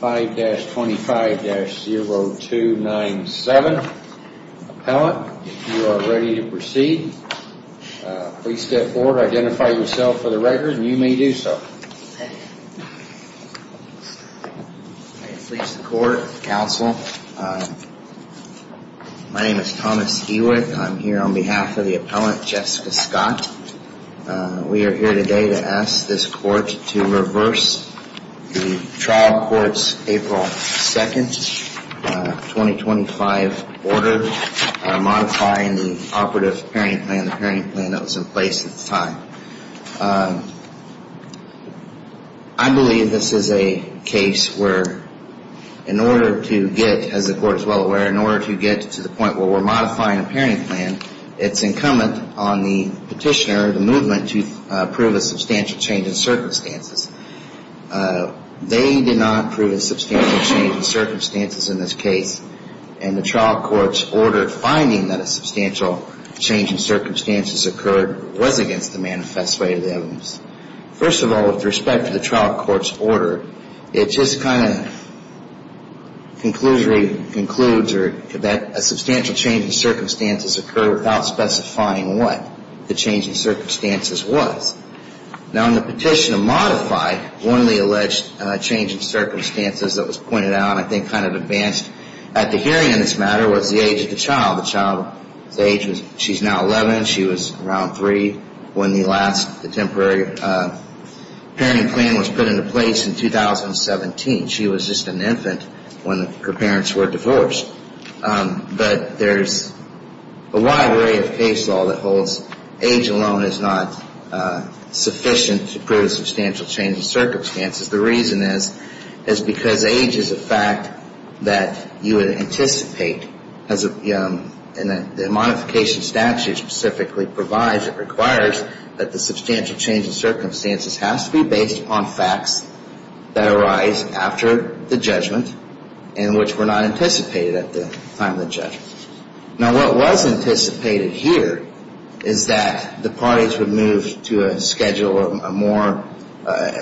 5-25-0297 Appellant, if you are ready to proceed, please step forward and identify yourself for the record. You may do so. I please the court, counsel, my name is Thomas Hewitt and I'm here on behalf of the appellant Jessica Scott. We are here today to ask this court to reverse the trial court's April 2, 2025 order, modifying the operative parenting plan, the parenting plan that was in place at the time. I believe this is a case where in order to get, as the court is well aware, in order to get to the point where we are modifying the parenting plan, it's incumbent on the petitioner, the movement, to prove a substantial change in circumstances. They did not prove a substantial change in circumstances in this case and the trial court's order finding that a substantial change in circumstances occurred was against the manifest weight of the evidence. First of all, with respect to the trial court's order, it just kind of conclusively concludes or that a substantial change in circumstances occurred without specifying what the change in circumstances was. Now in the petition to modify one of the alleged change in circumstances that was pointed out and I think kind of advanced at the hearing in this matter was the age of the child. The child's age, she's now 11, she was around 3 when the last, the temporary parenting plan was put into place in 2017. She was just an infant when her parents were divorced. But there's a wide array of case law that holds age alone is not sufficient to prove a substantial change in circumstances. The reason is, is because age is a fact that you would anticipate and the modification statute specifically provides, it requires that the substantial change in circumstances has to be based on facts that arise after the judgment and which were not anticipated at the time of the judgment. Now what was anticipated here is that the parties would move to a schedule, a more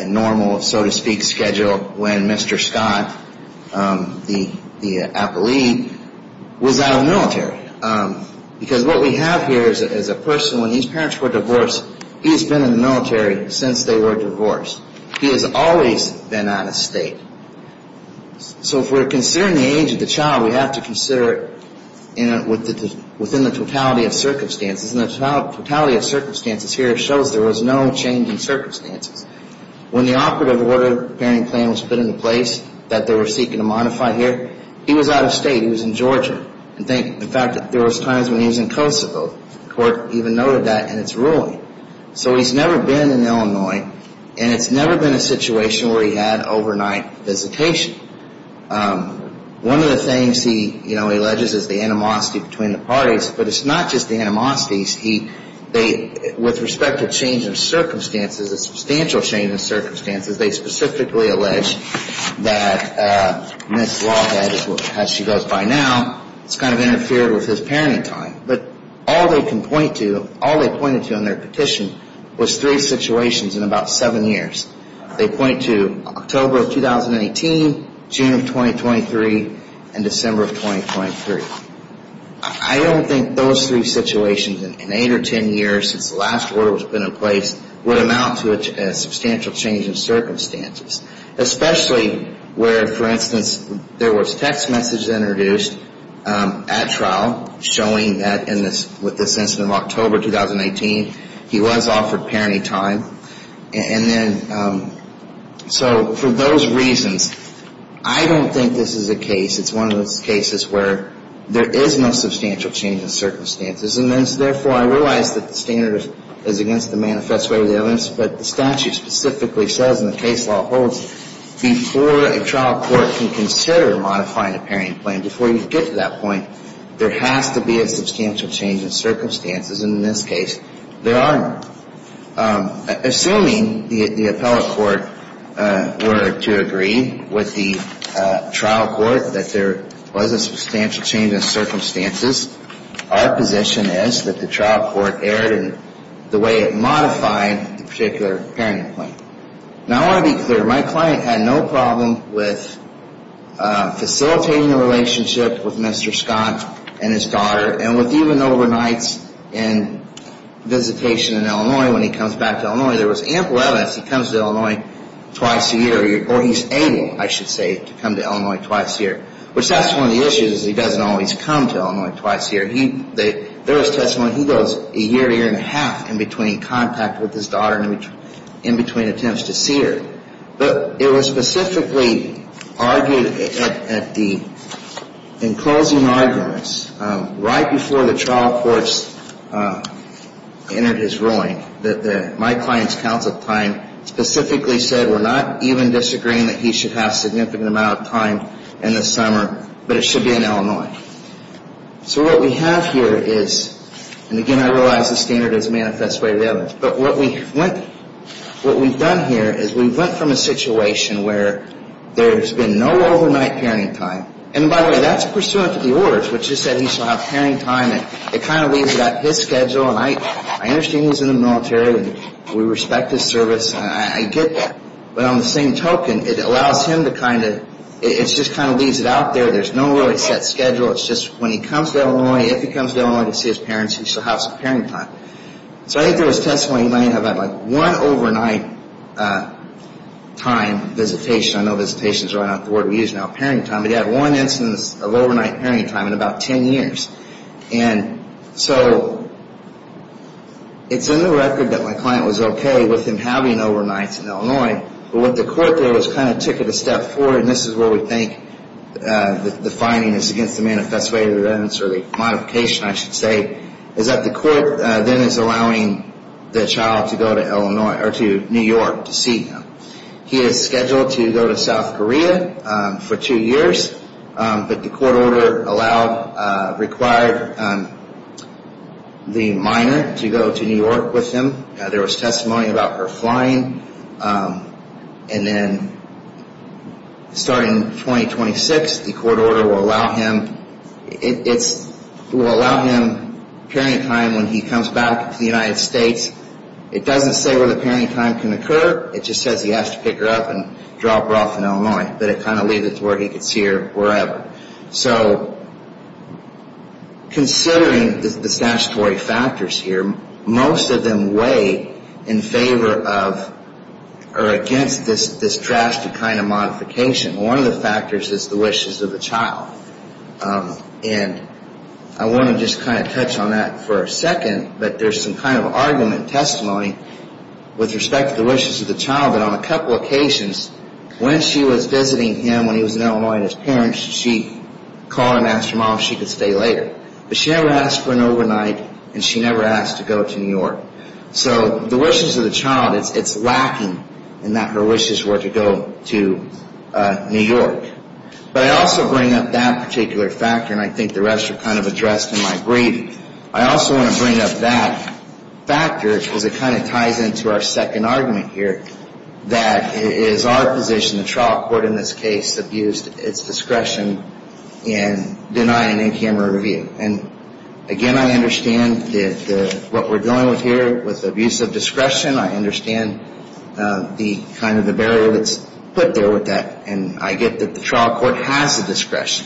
normal so to speak schedule when Mr. Scott, the appellee, was out of the military. Because what we have here is a person, when these parents were divorced, he's been in the military since they were divorced. He has always been out of state. So if we're considering the age of the child, we have to consider it within the totality of circumstances and the totality of circumstances here shows there was no change in circumstances. When the operative order bearing plan was put into place, that they were seeking to modify here, he was out of state. He was in Georgia. In fact, there was times when he was in Kosovo, the court even noted that in its ruling. So he's never been in Illinois and it's never been a situation where he had overnight visitation. One of the things he alleges is the animosity between the parties, but it's not just the animosities. With respect to change in circumstances, a substantial change in circumstances, they specifically allege that Ms. Lawhead, as she goes by now, has kind of interfered with his parenting time. But all they can point to, all they pointed to in their petition was three situations in about seven years. They point to October of 2018, June of 2023, and December of 2023. I don't think those three situations in eight or ten years since the last order was put in place would amount to a substantial change in circumstances, especially where, for instance, there was text messages introduced at trial showing that with this incident of October 2018, he was offered parenting time. So for those reasons, I don't think this is a case. It's one of those cases where there is no substantial change in circumstances. And therefore, I realize that the standard is against the manifest way of the evidence, but the statute specifically says, and the case law holds, before a trial court can consider modifying a parenting plan, before you get to that point, there has to be a substantial change in circumstances. And in this case, there are not, assuming the appellate court were to agree with the trial court that there was a substantial change in circumstances. Our position is that the trial court erred in the way it modified the particular parenting plan. Now, I want to be clear. My client had no problem with facilitating a relationship with Mr. Scott and his daughter, and with even overnights and visitation in Illinois. When he comes back to Illinois, there was ample evidence he comes to Illinois twice a year. Or he's able, I should say, to come to Illinois twice a year. Which that's one of the issues, he doesn't always come to Illinois twice a year. There was testimony he goes a year, year and a half in between contact with his daughter and in between attempts to see her. But it was specifically argued at the, in closing arguments, right before the trial courts entered his ruling, that my client's counsel at the time specifically said, we're not even disagreeing that he should have significant amount of time in the summer, but it should be in Illinois. So what we have here is, and again I realize the standard is manifest way to the evidence, but what we went, what we've done here is we've went from a situation where there's been no overnight parenting time, and by the way, that's pursuant to the orders, which is that he shall have parenting time, and it kind of leaves it at his schedule, and I understand he's in the military, and we respect his service, and I get that. But on the same token, it allows him to kind of, it just kind of leaves it out there, there's no really set schedule, it's just when he comes to Illinois, if he comes to Illinois to see his parents, he shall have some parenting time. So I think there was testimony he might have had like one overnight time visitation, I know visitation is not the word we use now, parenting time, but he had one instance of overnight parenting time in about ten years. And so it's in the record that my client was okay with him having overnights in Illinois, but what the court did was kind of took it a step forward, and this is where we think the finding is against the manifest way to the evidence, or the modification I should say, is that the court then is allowing the child to go to Illinois, or to New York to see him. He is scheduled to go to South Korea for two years, but the court order allowed, required the minor to go to New York with him. There was testimony about her flying, and then starting in 2026, the court order will allow him, it will allow him parenting time when he comes back to the United States. It doesn't say where the parenting time can occur, it just says he has to pick her up and drop her off in Illinois, but it kind of leaves it to where he can see her wherever. So considering the statutory factors here, most of them weigh in favor of, or against this drastic kind of modification. One of the factors is the wishes of the child, and I want to just kind of touch on that for a second, that there is some kind of argument, testimony, with respect to the wishes of the child, that on a couple of occasions, when she was visiting him when he was in Illinois and his parents, she called and asked her mom if she could stay later. But she never asked for an overnight, and she never asked to go to New York. So the wishes of the child, it's lacking in that her wishes were to go to New York. But I also bring up that particular factor, and I think the rest are kind of addressed in my brief. I also want to bring up that factor, because it kind of ties into our second argument here, that it is our position, the trial court in this case, abused its discretion in denying APM a review. And again, I understand that what we're dealing with here, with abuse of discretion, I understand the kind of the barrier that's put there with that, and I get that the trial court has the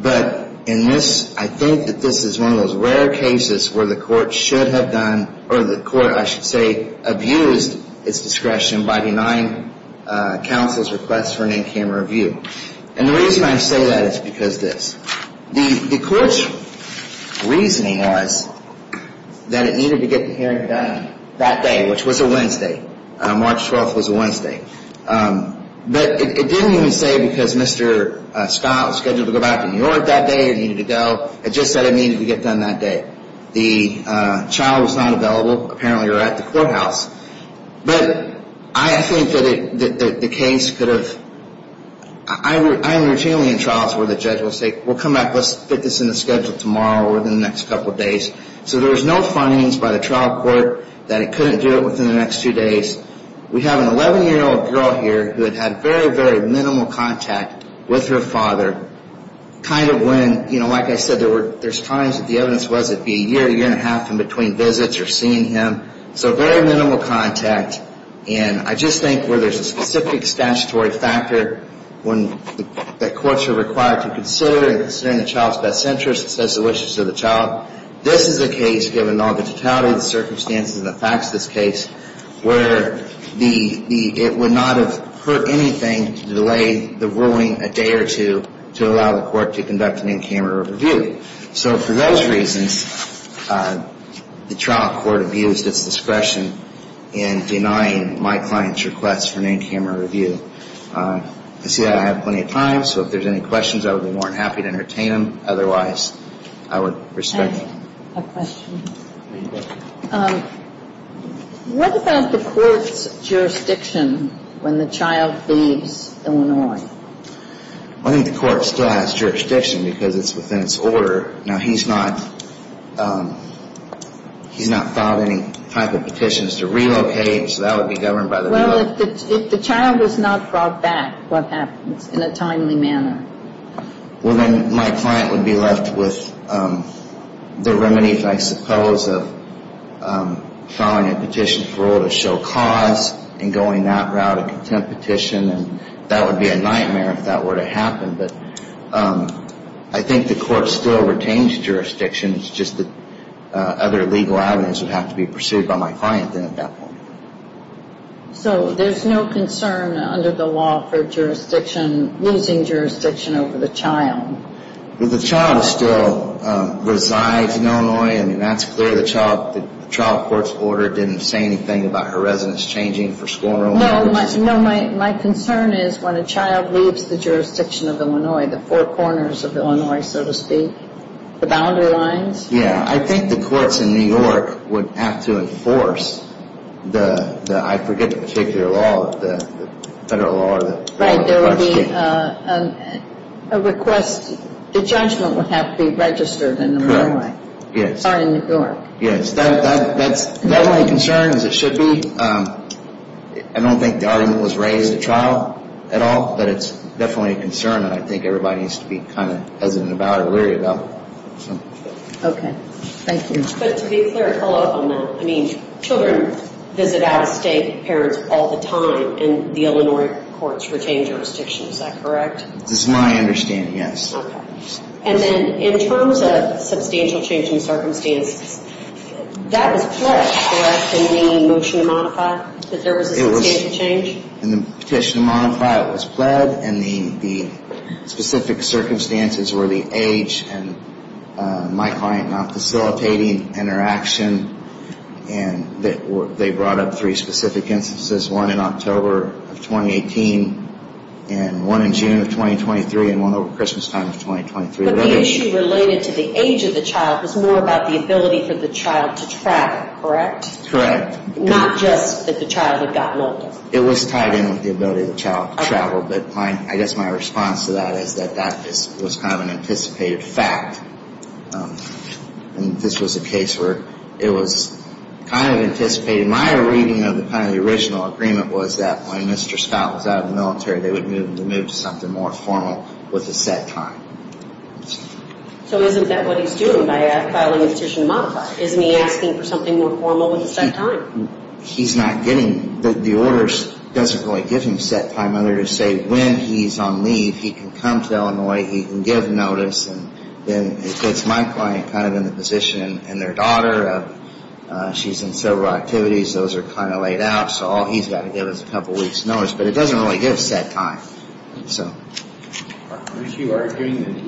But in this, I think that this is one of those rare cases where the court should have done, or the court, I should say, abused its discretion by denying counsel's request for an in-camera review. And the reason I say that is because of this. The court's reasoning was that it needed to get the hearing done that day, which was a March 12th was a Wednesday. But it didn't even say because Mr. Scott was scheduled to go back to New York that day and needed to go. It just said it needed to get done that day. The child was not available, apparently, or at the courthouse. But I think that the case could have, I'm routinely in trials where the judge will say, we'll come back, let's fit this in the schedule tomorrow or within the next couple of days. So there was no findings by the trial court that it couldn't do it within the next two days. We have an 11-year-old girl here who had had very, very minimal contact with her father, kind of when, you know, like I said, there's times that the evidence was it'd be a year, a year and a half in between visits or seeing him. So very minimal contact. And I just think where there's a specific statutory factor when the courts are required to consider and consider the child's best interests as to the wishes of the child, this is a case, given all the totality of the circumstances and the facts of this case, where it would not have hurt anything to delay the ruling a day or two to allow the court to conduct an in-camera review. So for those reasons, the trial court abused its discretion in denying my client's request for an in-camera review. I see that I have plenty of time, so if there's any questions, I would be more than happy to entertain them. Otherwise, I would respect that. I have a question. Go ahead. What about the court's jurisdiction when the child leaves Illinois? I think the court still has jurisdiction because it's within its order. Now, he's not, he's not filed any type of petitions to relocate, so that would be governed by the... Well, if the child was not brought back, what happens in a timely manner? Well, then my client would be left with the remedies, I suppose, of filing a petition for oral to show cause and going that route, a contempt petition, and that would be a nightmare if that were to happen. But I think the court still retains jurisdiction. It's just that other legal avenues would have to be pursued by my client then at that point. So there's no concern under the law for jurisdiction, losing jurisdiction over the child? The child still resides in Illinois. I mean, that's clear. The child court's order didn't say anything about her residence changing for school enrollment. No, my concern is when a child leaves the jurisdiction of Illinois, the four corners of Illinois, so to speak, the boundary lines. Yeah, I think the courts in New York would have to enforce the, I forget the particular law, the federal law or the... Right, there would be a request, the judgment would have to be registered in Illinois. Correct, yes. Or in New York. Yes, that's definitely a concern as it should be. I don't think the argument was raised at trial at all, but it's definitely a concern and I think everybody needs to be kind of hesitant about it, worried about it. Okay, thank you. But to be clear, to follow up on that, I mean, children visit out-of-state parents all the time and the Illinois courts retain jurisdiction, is that correct? This is my understanding, yes. And then in terms of substantial change in circumstances, that was pledged, correct, in the motion to modify, that there was a substantial change? In the petition to modify, it was pled and the specific circumstances were the age and my client not facilitating interaction and they brought up three specific instances, one in October of 2018 and one in June of 2023 and one over Christmas time of 2023. But the issue related to the age of the child was more about the ability for the child to track, correct? Correct. Not just that the child had gotten older. It was tied in with the ability of the child to travel, but I guess my response to that is that that was kind of an anticipated fact and this was a case where it was kind of anticipated. My reading of kind of the original agreement was that when Mr. Scott was out of the military, they would move him to something more formal with a set time. So isn't that what he's doing by filing a petition to modify? Isn't he asking for something more formal with a set time? The order doesn't really give him set time other to say when he's on leave, he can come to Illinois, he can give notice and then it puts my client kind of in the position and their daughter, she's in several activities, those are kind of laid out, so all he's got to give is a couple weeks notice, but it doesn't really give set time. Aren't you arguing that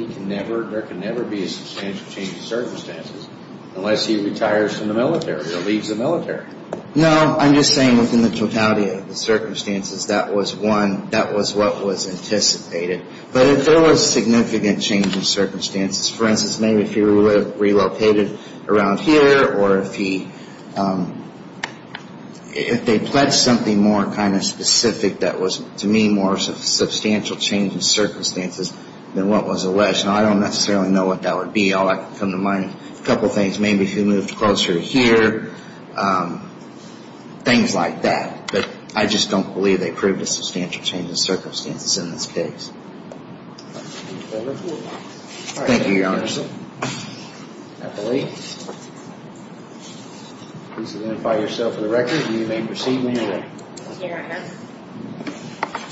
there can never be a substantial change in circumstances unless he retires from the military or leaves the military? No, I'm just saying within the totality of the circumstances, that was one, that was what was anticipated. But if there was significant change in circumstances, for instance, maybe if he relocated around here or if they pledged something more kind of specific that was, to me, more of a substantial change in circumstances than what was alleged, I don't necessarily know what that would be. All I can come to mind is a couple things. Maybe if he moved closer to here, things like that. But I just don't believe they proved a substantial change in circumstances in this case. Thank you, Your Honor. Please identify yourself for the record and you may proceed, ma'am. Thank you, Your Honor.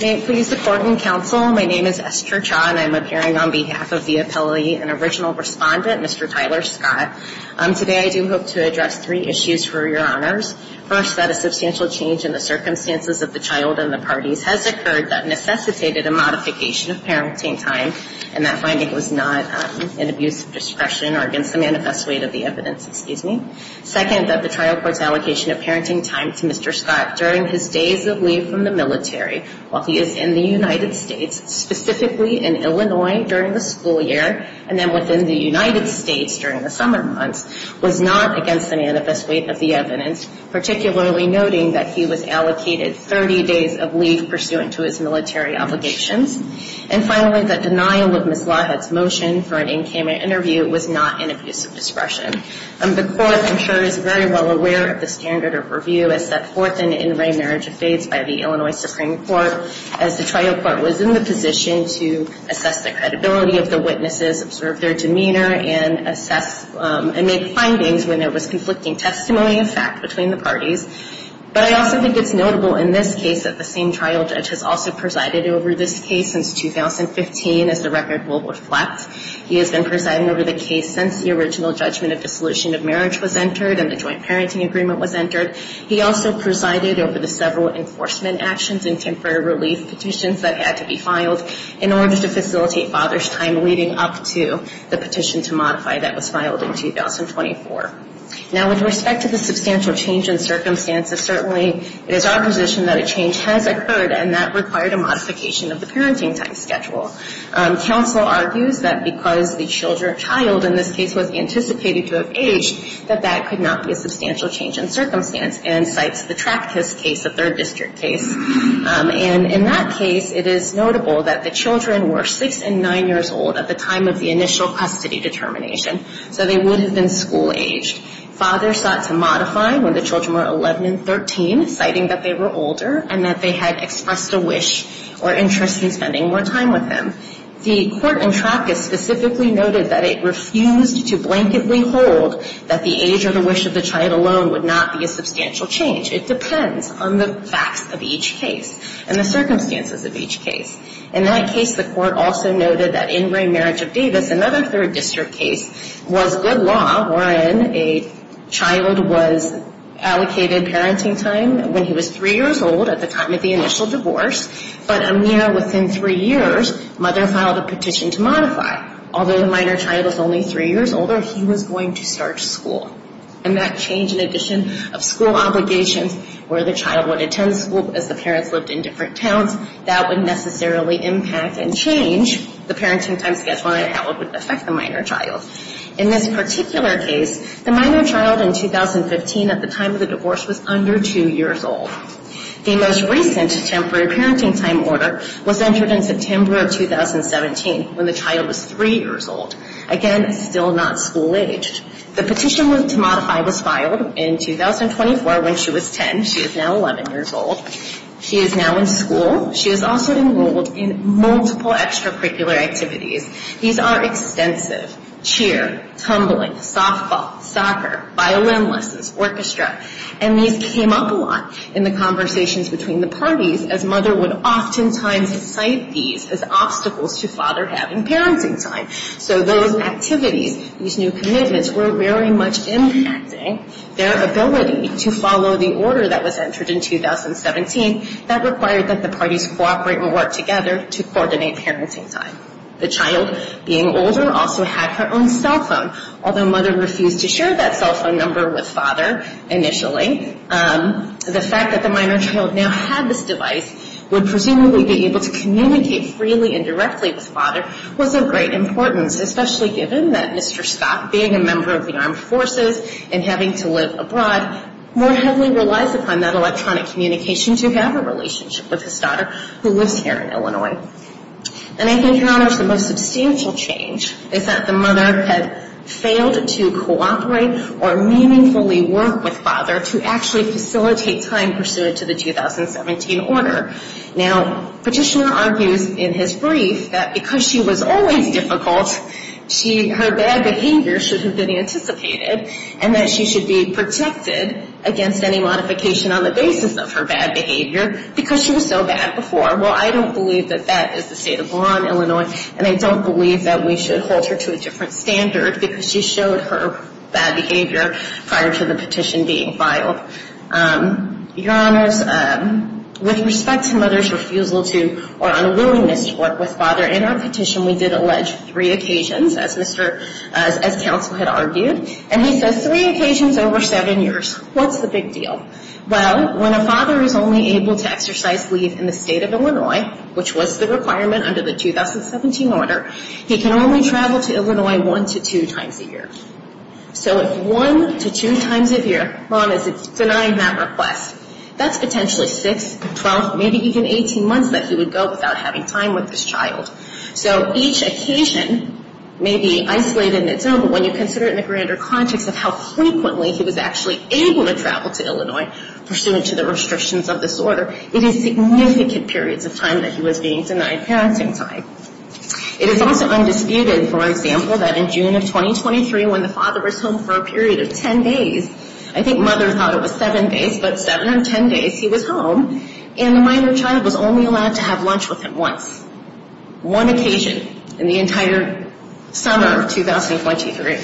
May it please the Court and Counsel, my name is Esther Cha and I'm appearing on behalf of the appellee and original respondent, Mr. Tyler Scott. Today I do hope to address three issues for Your Honors. First, that a substantial change in the circumstances of the child and the parties has occurred that necessitated a modification of parenting time and that finding was not an abuse of discretion or against the manifest weight of the evidence. Second, that the trial court's allocation of parenting time to Mr. Scott during his days of leave from the military while he is in the United States, specifically in Illinois during the school year, and then within the United States during the summer months, was not against the manifest weight of the evidence, particularly noting that he was allocated 30 days of leave pursuant to his military obligations. And finally, that denial of Ms. Lawhead's motion for an in-camera interview was not an abuse of discretion. The Court, I'm sure, is very well aware of the standard of review as set forth in in-ray marriage of faiths by the Illinois Supreme Court as the trial court was in the position to assess the credibility of the witnesses, observe their demeanor, and assess and make findings when there was conflicting testimony of fact between the parties. But I also think it's notable in this case that the same trial judge has also presided over this case since 2015, as the record will reflect. He has been presiding over the case since the original judgment of dissolution of marriage was entered and the joint parenting agreement was entered. He also presided over the several enforcement actions and temporary relief petitions that had to be filed in order to facilitate father's time leading up to the petition to modify that was filed in 2024. Now, with respect to the substantial change in circumstances, certainly it is our position that a change has occurred and that required a modification of the parenting time schedule. Counsel argues that because the child, in this case, was anticipated to have aged, that that could not be a substantial change in circumstance and cites the Tractus case, a third district case. And in that case, it is notable that the children were 6 and 9 years old at the time of the initial custody determination, so they would have been school-aged. Fathers sought to modify when the children were 11 and 13, citing that they were older and that they had expressed a wish or interest in spending more time with them. The court in Tractus specifically noted that it refused to blanketly hold that the age or the wish of the child alone would not be a substantial change. It depends on the facts of each case and the circumstances of each case. In that case, the court also noted that in Ray Marriage of Davis, another third district case, was good law wherein a child was allocated parenting time when he was 3 years old at the time of the initial divorce, but a mere within 3 years, mother filed a petition to modify. Although the minor child was only 3 years older, he was going to start school. And that change in addition of school obligations where the child would attend school as the parents lived in different towns, that would necessarily impact and change the parenting time schedule and how it would affect the minor child. In this particular case, the minor child in 2015 at the time of the divorce was under 2 years old. The most recent temporary parenting time order was entered in September of 2017 when the child was 3 years old. Again, still not school-aged. The petition to modify was filed in 2024 when she was 10. She is now 11 years old. She is now in school. She is also enrolled in multiple extracurricular activities. These are extensive. Cheer, tumbling, softball, soccer, violin lessons, orchestra. And these came up a lot in the conversations between the parties as mother would oftentimes cite these as obstacles to father having parenting time. So those activities, these new commitments were very much impacting their ability to follow the order that was entered in 2017 that required that the parties cooperate and work together to coordinate parenting time. The child being older also had her own cell phone, although mother refused to share that cell phone number with father initially. The fact that the minor child now had this device would presumably be able to communicate freely and directly with father was of great importance, especially given that Mr. Scott, being a member of the armed forces and having to live abroad, more heavily relies upon that electronic communication to have a relationship with his daughter who lives here in Illinois. And I think the most substantial change is that the mother had failed to cooperate or meaningfully work with father to actually facilitate time pursuant to the 2017 order. Now, Petitioner argues in his brief that because she was always difficult, her bad behavior should have been anticipated and that she should be protected against any modification on the basis of her bad behavior because she was so bad before. Well, I don't believe that that is the state of law in Illinois, and I don't believe that we should hold her to a different standard because she showed her bad behavior prior to the petition being filed. Your Honors, with respect to mother's refusal to or unwillingness to work with father, in our petition we did allege three occasions, as counsel had argued, and he says three occasions over seven years. What's the big deal? Well, when a father is only able to exercise leave in the state of Illinois, which was the requirement under the 2017 order, he can only travel to Illinois one to two times a year. So if one to two times a year mom is denying that request, that's potentially six, 12, maybe even 18 months that he would go without having time with his child. So each occasion may be isolated in its own, but when you consider it in the grander context of how frequently he was actually able to travel to Illinois, pursuant to the restrictions of this order, it is significant periods of time that he was being denied parenting time. It is also undisputed, for example, that in June of 2023, when the father was home for a period of ten days, I think mother thought it was seven days, but seven of ten days he was home, and the minor child was only allowed to have lunch with him once, one occasion in the entire summer of 2023.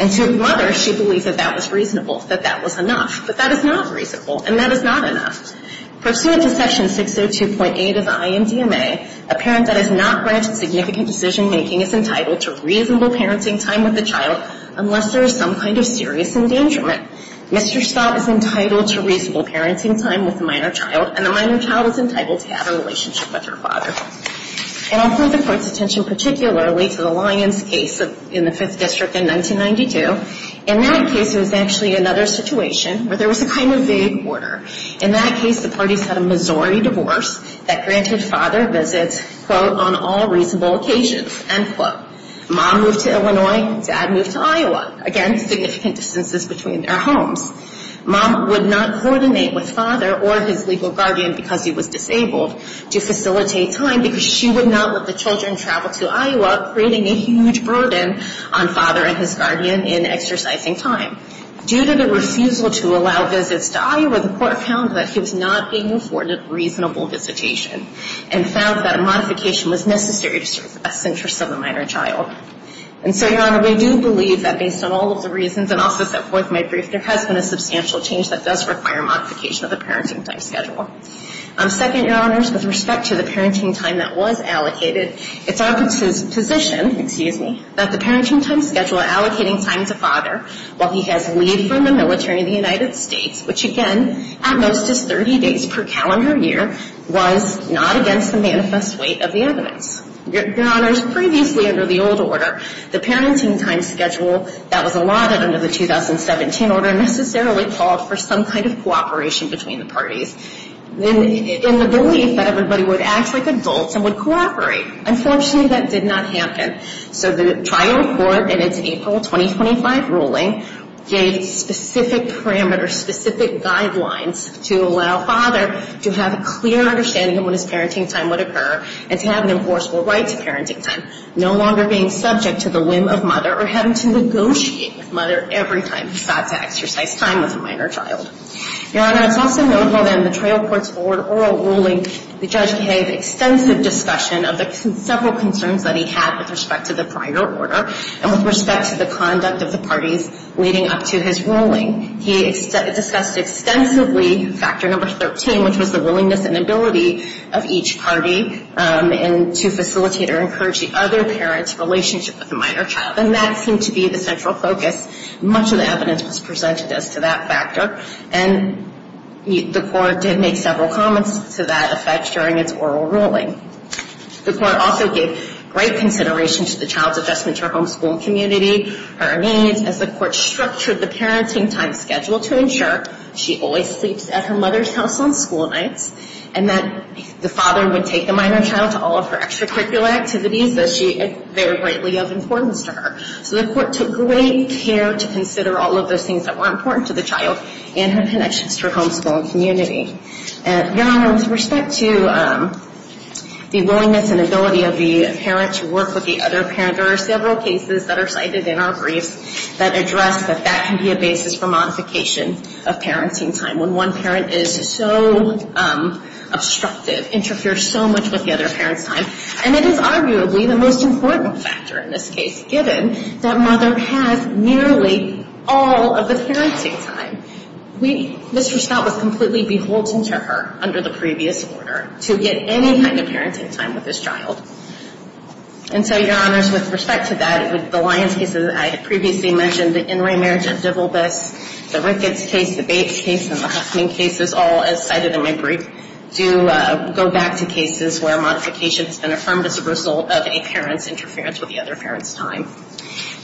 And to mother, she believes that that was reasonable, that that was enough. But that is not reasonable, and that is not enough. Pursuant to Section 602.8 of the INDMA, a parent that is not granted significant decision-making is entitled to reasonable parenting time with the child unless there is some kind of serious endangerment. Mr. Staub is entitled to reasonable parenting time with the minor child, and the minor child is entitled to have a relationship with her father. And I'll draw the Court's attention particularly to the Lyons case in the Fifth District in 1992. In that case, it was actually another situation where there was a kind of vague order. In that case, the parties had a Missouri divorce that granted father visits, quote, on all reasonable occasions, end quote. Mom moved to Illinois. Dad moved to Iowa. Again, significant distances between their homes. Mom would not coordinate with father or his legal guardian, because he was disabled, to facilitate time, because she would not let the children travel to Iowa, creating a huge burden on father and his guardian in exercising time. Due to the refusal to allow visits to Iowa, the Court found that he was not being afforded reasonable visitation, and found that a modification was necessary to serve the best interests of the minor child. And so, Your Honor, we do believe that based on all of the reasons, and also set forth in my brief, there has been a substantial change that does require modification of the parenting time schedule. Second, Your Honors, with respect to the parenting time that was allocated, it's our position, excuse me, that the parenting time schedule allocating time to father, while he has leave from the military in the United States, which again, at most is 30 days per calendar year, was not against the manifest weight of the evidence. Your Honors, previously under the old order, the parenting time schedule that was allotted under the 2017 order necessarily called for some kind of cooperation between the parties, in the belief that everybody would act like adults and would cooperate. Unfortunately, that did not happen. So the trial court, in its April 2025 ruling, gave specific parameters, specific guidelines, to allow father to have a clear understanding of when his parenting time would occur, and to have an enforceable right to parenting time. No longer being subject to the whim of mother, or having to negotiate with mother every time he thought to exercise time with a minor child. Your Honors, also notable in the trial court's oral ruling, the judge gave extensive discussion of the several concerns that he had with respect to the prior order, and with respect to the conduct of the parties leading up to his ruling. He discussed extensively factor number 13, which was the willingness and ability of each party to facilitate or encourage the other parent's relationship with the minor child. And that seemed to be the central focus. Much of the evidence was presented as to that factor. And the court did make several comments to that effect during its oral ruling. The court also gave great consideration to the child's adjustment to her homeschool and community, her needs, as the court structured the parenting time schedule to ensure she always sleeps at her mother's house on school nights, and that the father would take the minor child to all of her extracurricular activities that are greatly of importance to her. So the court took great care to consider all of those things that were important to the child and her connections to her homeschool and community. Your Honors, with respect to the willingness and ability of the parent to work with the other parent, there are several cases that are cited in our briefs that address that that can be a basis for modification of parenting time. When one parent is so obstructive, interferes so much with the other parent's time. And it is arguably the most important factor in this case, given that mother has nearly all of the parenting time. Mr. Scott was completely beholden to her under the previous order to get any kind of parenting time with his child. And so, Your Honors, with respect to that, with the Lyons case that I had previously mentioned, the In Re Marriage at Dibblebass, the Ricketts case, the Bates case, and the Huffman cases, all as cited in my brief, do go back to cases where modification has been affirmed as a result of a parent's interference with the other parent's time.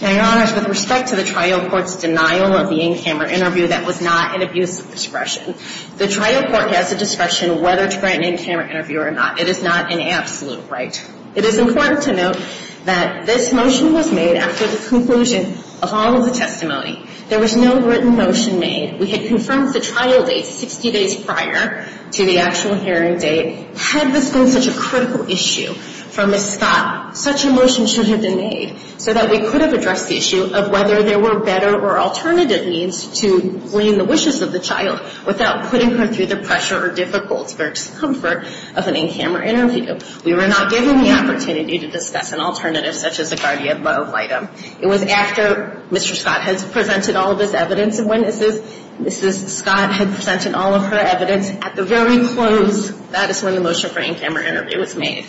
Now, Your Honors, with respect to the trial court's denial of the in-camera interview that was not an abuse of discretion, the trial court has the discretion whether to grant an in-camera interview or not. It is not an absolute right. It is important to note that this motion was made after the conclusion of all of the testimony. There was no written motion made. We had confirmed the trial date 60 days prior to the actual hearing date. Had this been such a critical issue for Ms. Scott, such a motion should have been made so that we could have addressed the issue of whether there were better or alternative means to glean the wishes of the child without putting her through the pressure or difficulty or discomfort of an in-camera interview. We were not given the opportunity to discuss an alternative such as a guardian love item. It was after Mr. Scott had presented all of his evidence and when Mrs. Scott had presented all of her evidence, at the very close, that is when the motion for in-camera interview was made.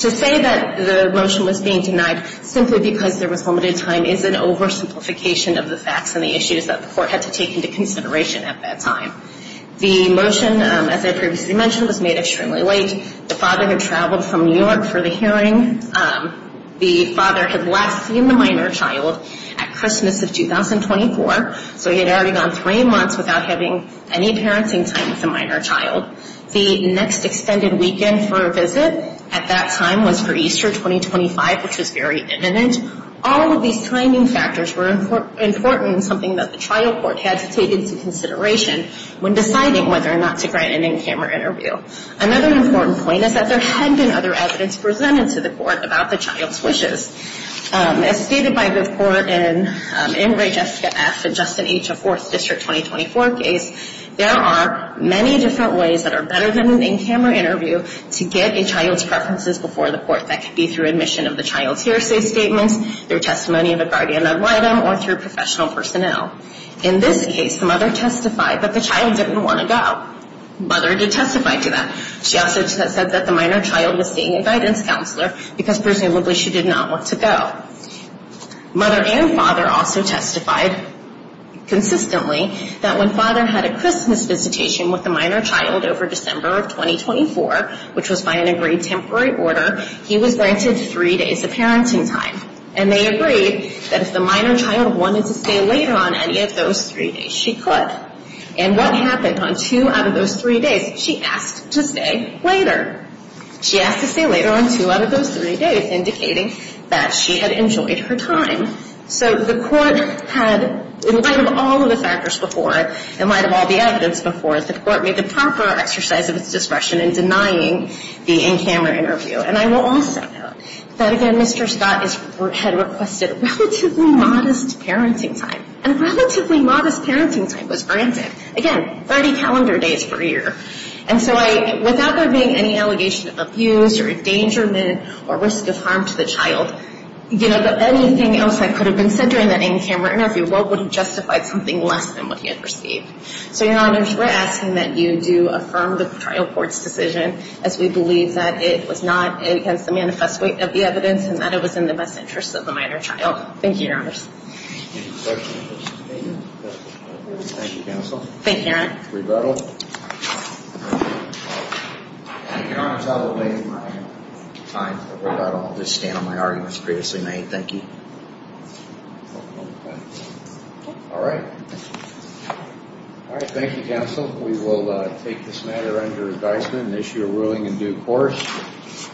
To say that the motion was being denied simply because there was limited time is an oversimplification of the facts and the issues that the court had to take into consideration at that time. The motion, as I previously mentioned, was made extremely late. The father had traveled from New York for the hearing. The father had last seen the minor child at Christmas of 2024, so he had already gone three months without having any parenting time with the minor child. The next extended weekend for a visit at that time was for Easter 2025, which was very imminent. All of these timing factors were important, something that the trial court had to take into consideration when deciding whether or not to grant an in-camera interview. Another important point is that there had been other evidence presented to the court about the child's wishes. As stated by the court in Reg. S. F. and Justin H. of 4th District 2024 case, there are many different ways that are better than an in-camera interview to get a child's preferences before the court. That could be through admission of the child's hearsay statements, their testimony of a guardian love item, or through professional personnel. In this case, the mother testified that the child didn't want to go. Mother did testify to that. She also said that the minor child was seeing a guidance counselor because presumably she did not want to go. Mother and father also testified consistently that when father had a Christmas visitation with the minor child over December of 2024, which was by an agreed temporary order, he was granted three days of parenting time. And they agreed that if the minor child wanted to stay later on any of those three days, she could. And what happened on two out of those three days, she asked to stay later. She asked to stay later on two out of those three days, indicating that she had enjoyed her time. So the court had, in light of all of the factors before, in light of all the evidence before, the court made the proper exercise of its discretion in denying the in-camera interview. And I will also note that, again, Mr. Scott had requested relatively modest parenting time. And relatively modest parenting time was granted. Again, 30 calendar days per year. And so without there being any allegation of abuse or endangerment or risk of harm to the child, anything else that could have been said during that in-camera interview would have justified something less than what he had received. So, Your Honor, we're asking that you do affirm the trial court's decision as we believe that it was not against the manifest weight of the evidence and that it was in the best interest of the minor child. Thank you, Your Honor. Thank you, counsel. Thank you, Your Honor. Rebuttal. Your Honor, I will delay my time for rebuttal. I'll just stand on my arguments previously made. Thank you. All right. Thank you, counsel. We will take this matter under advisement and issue a ruling in due course.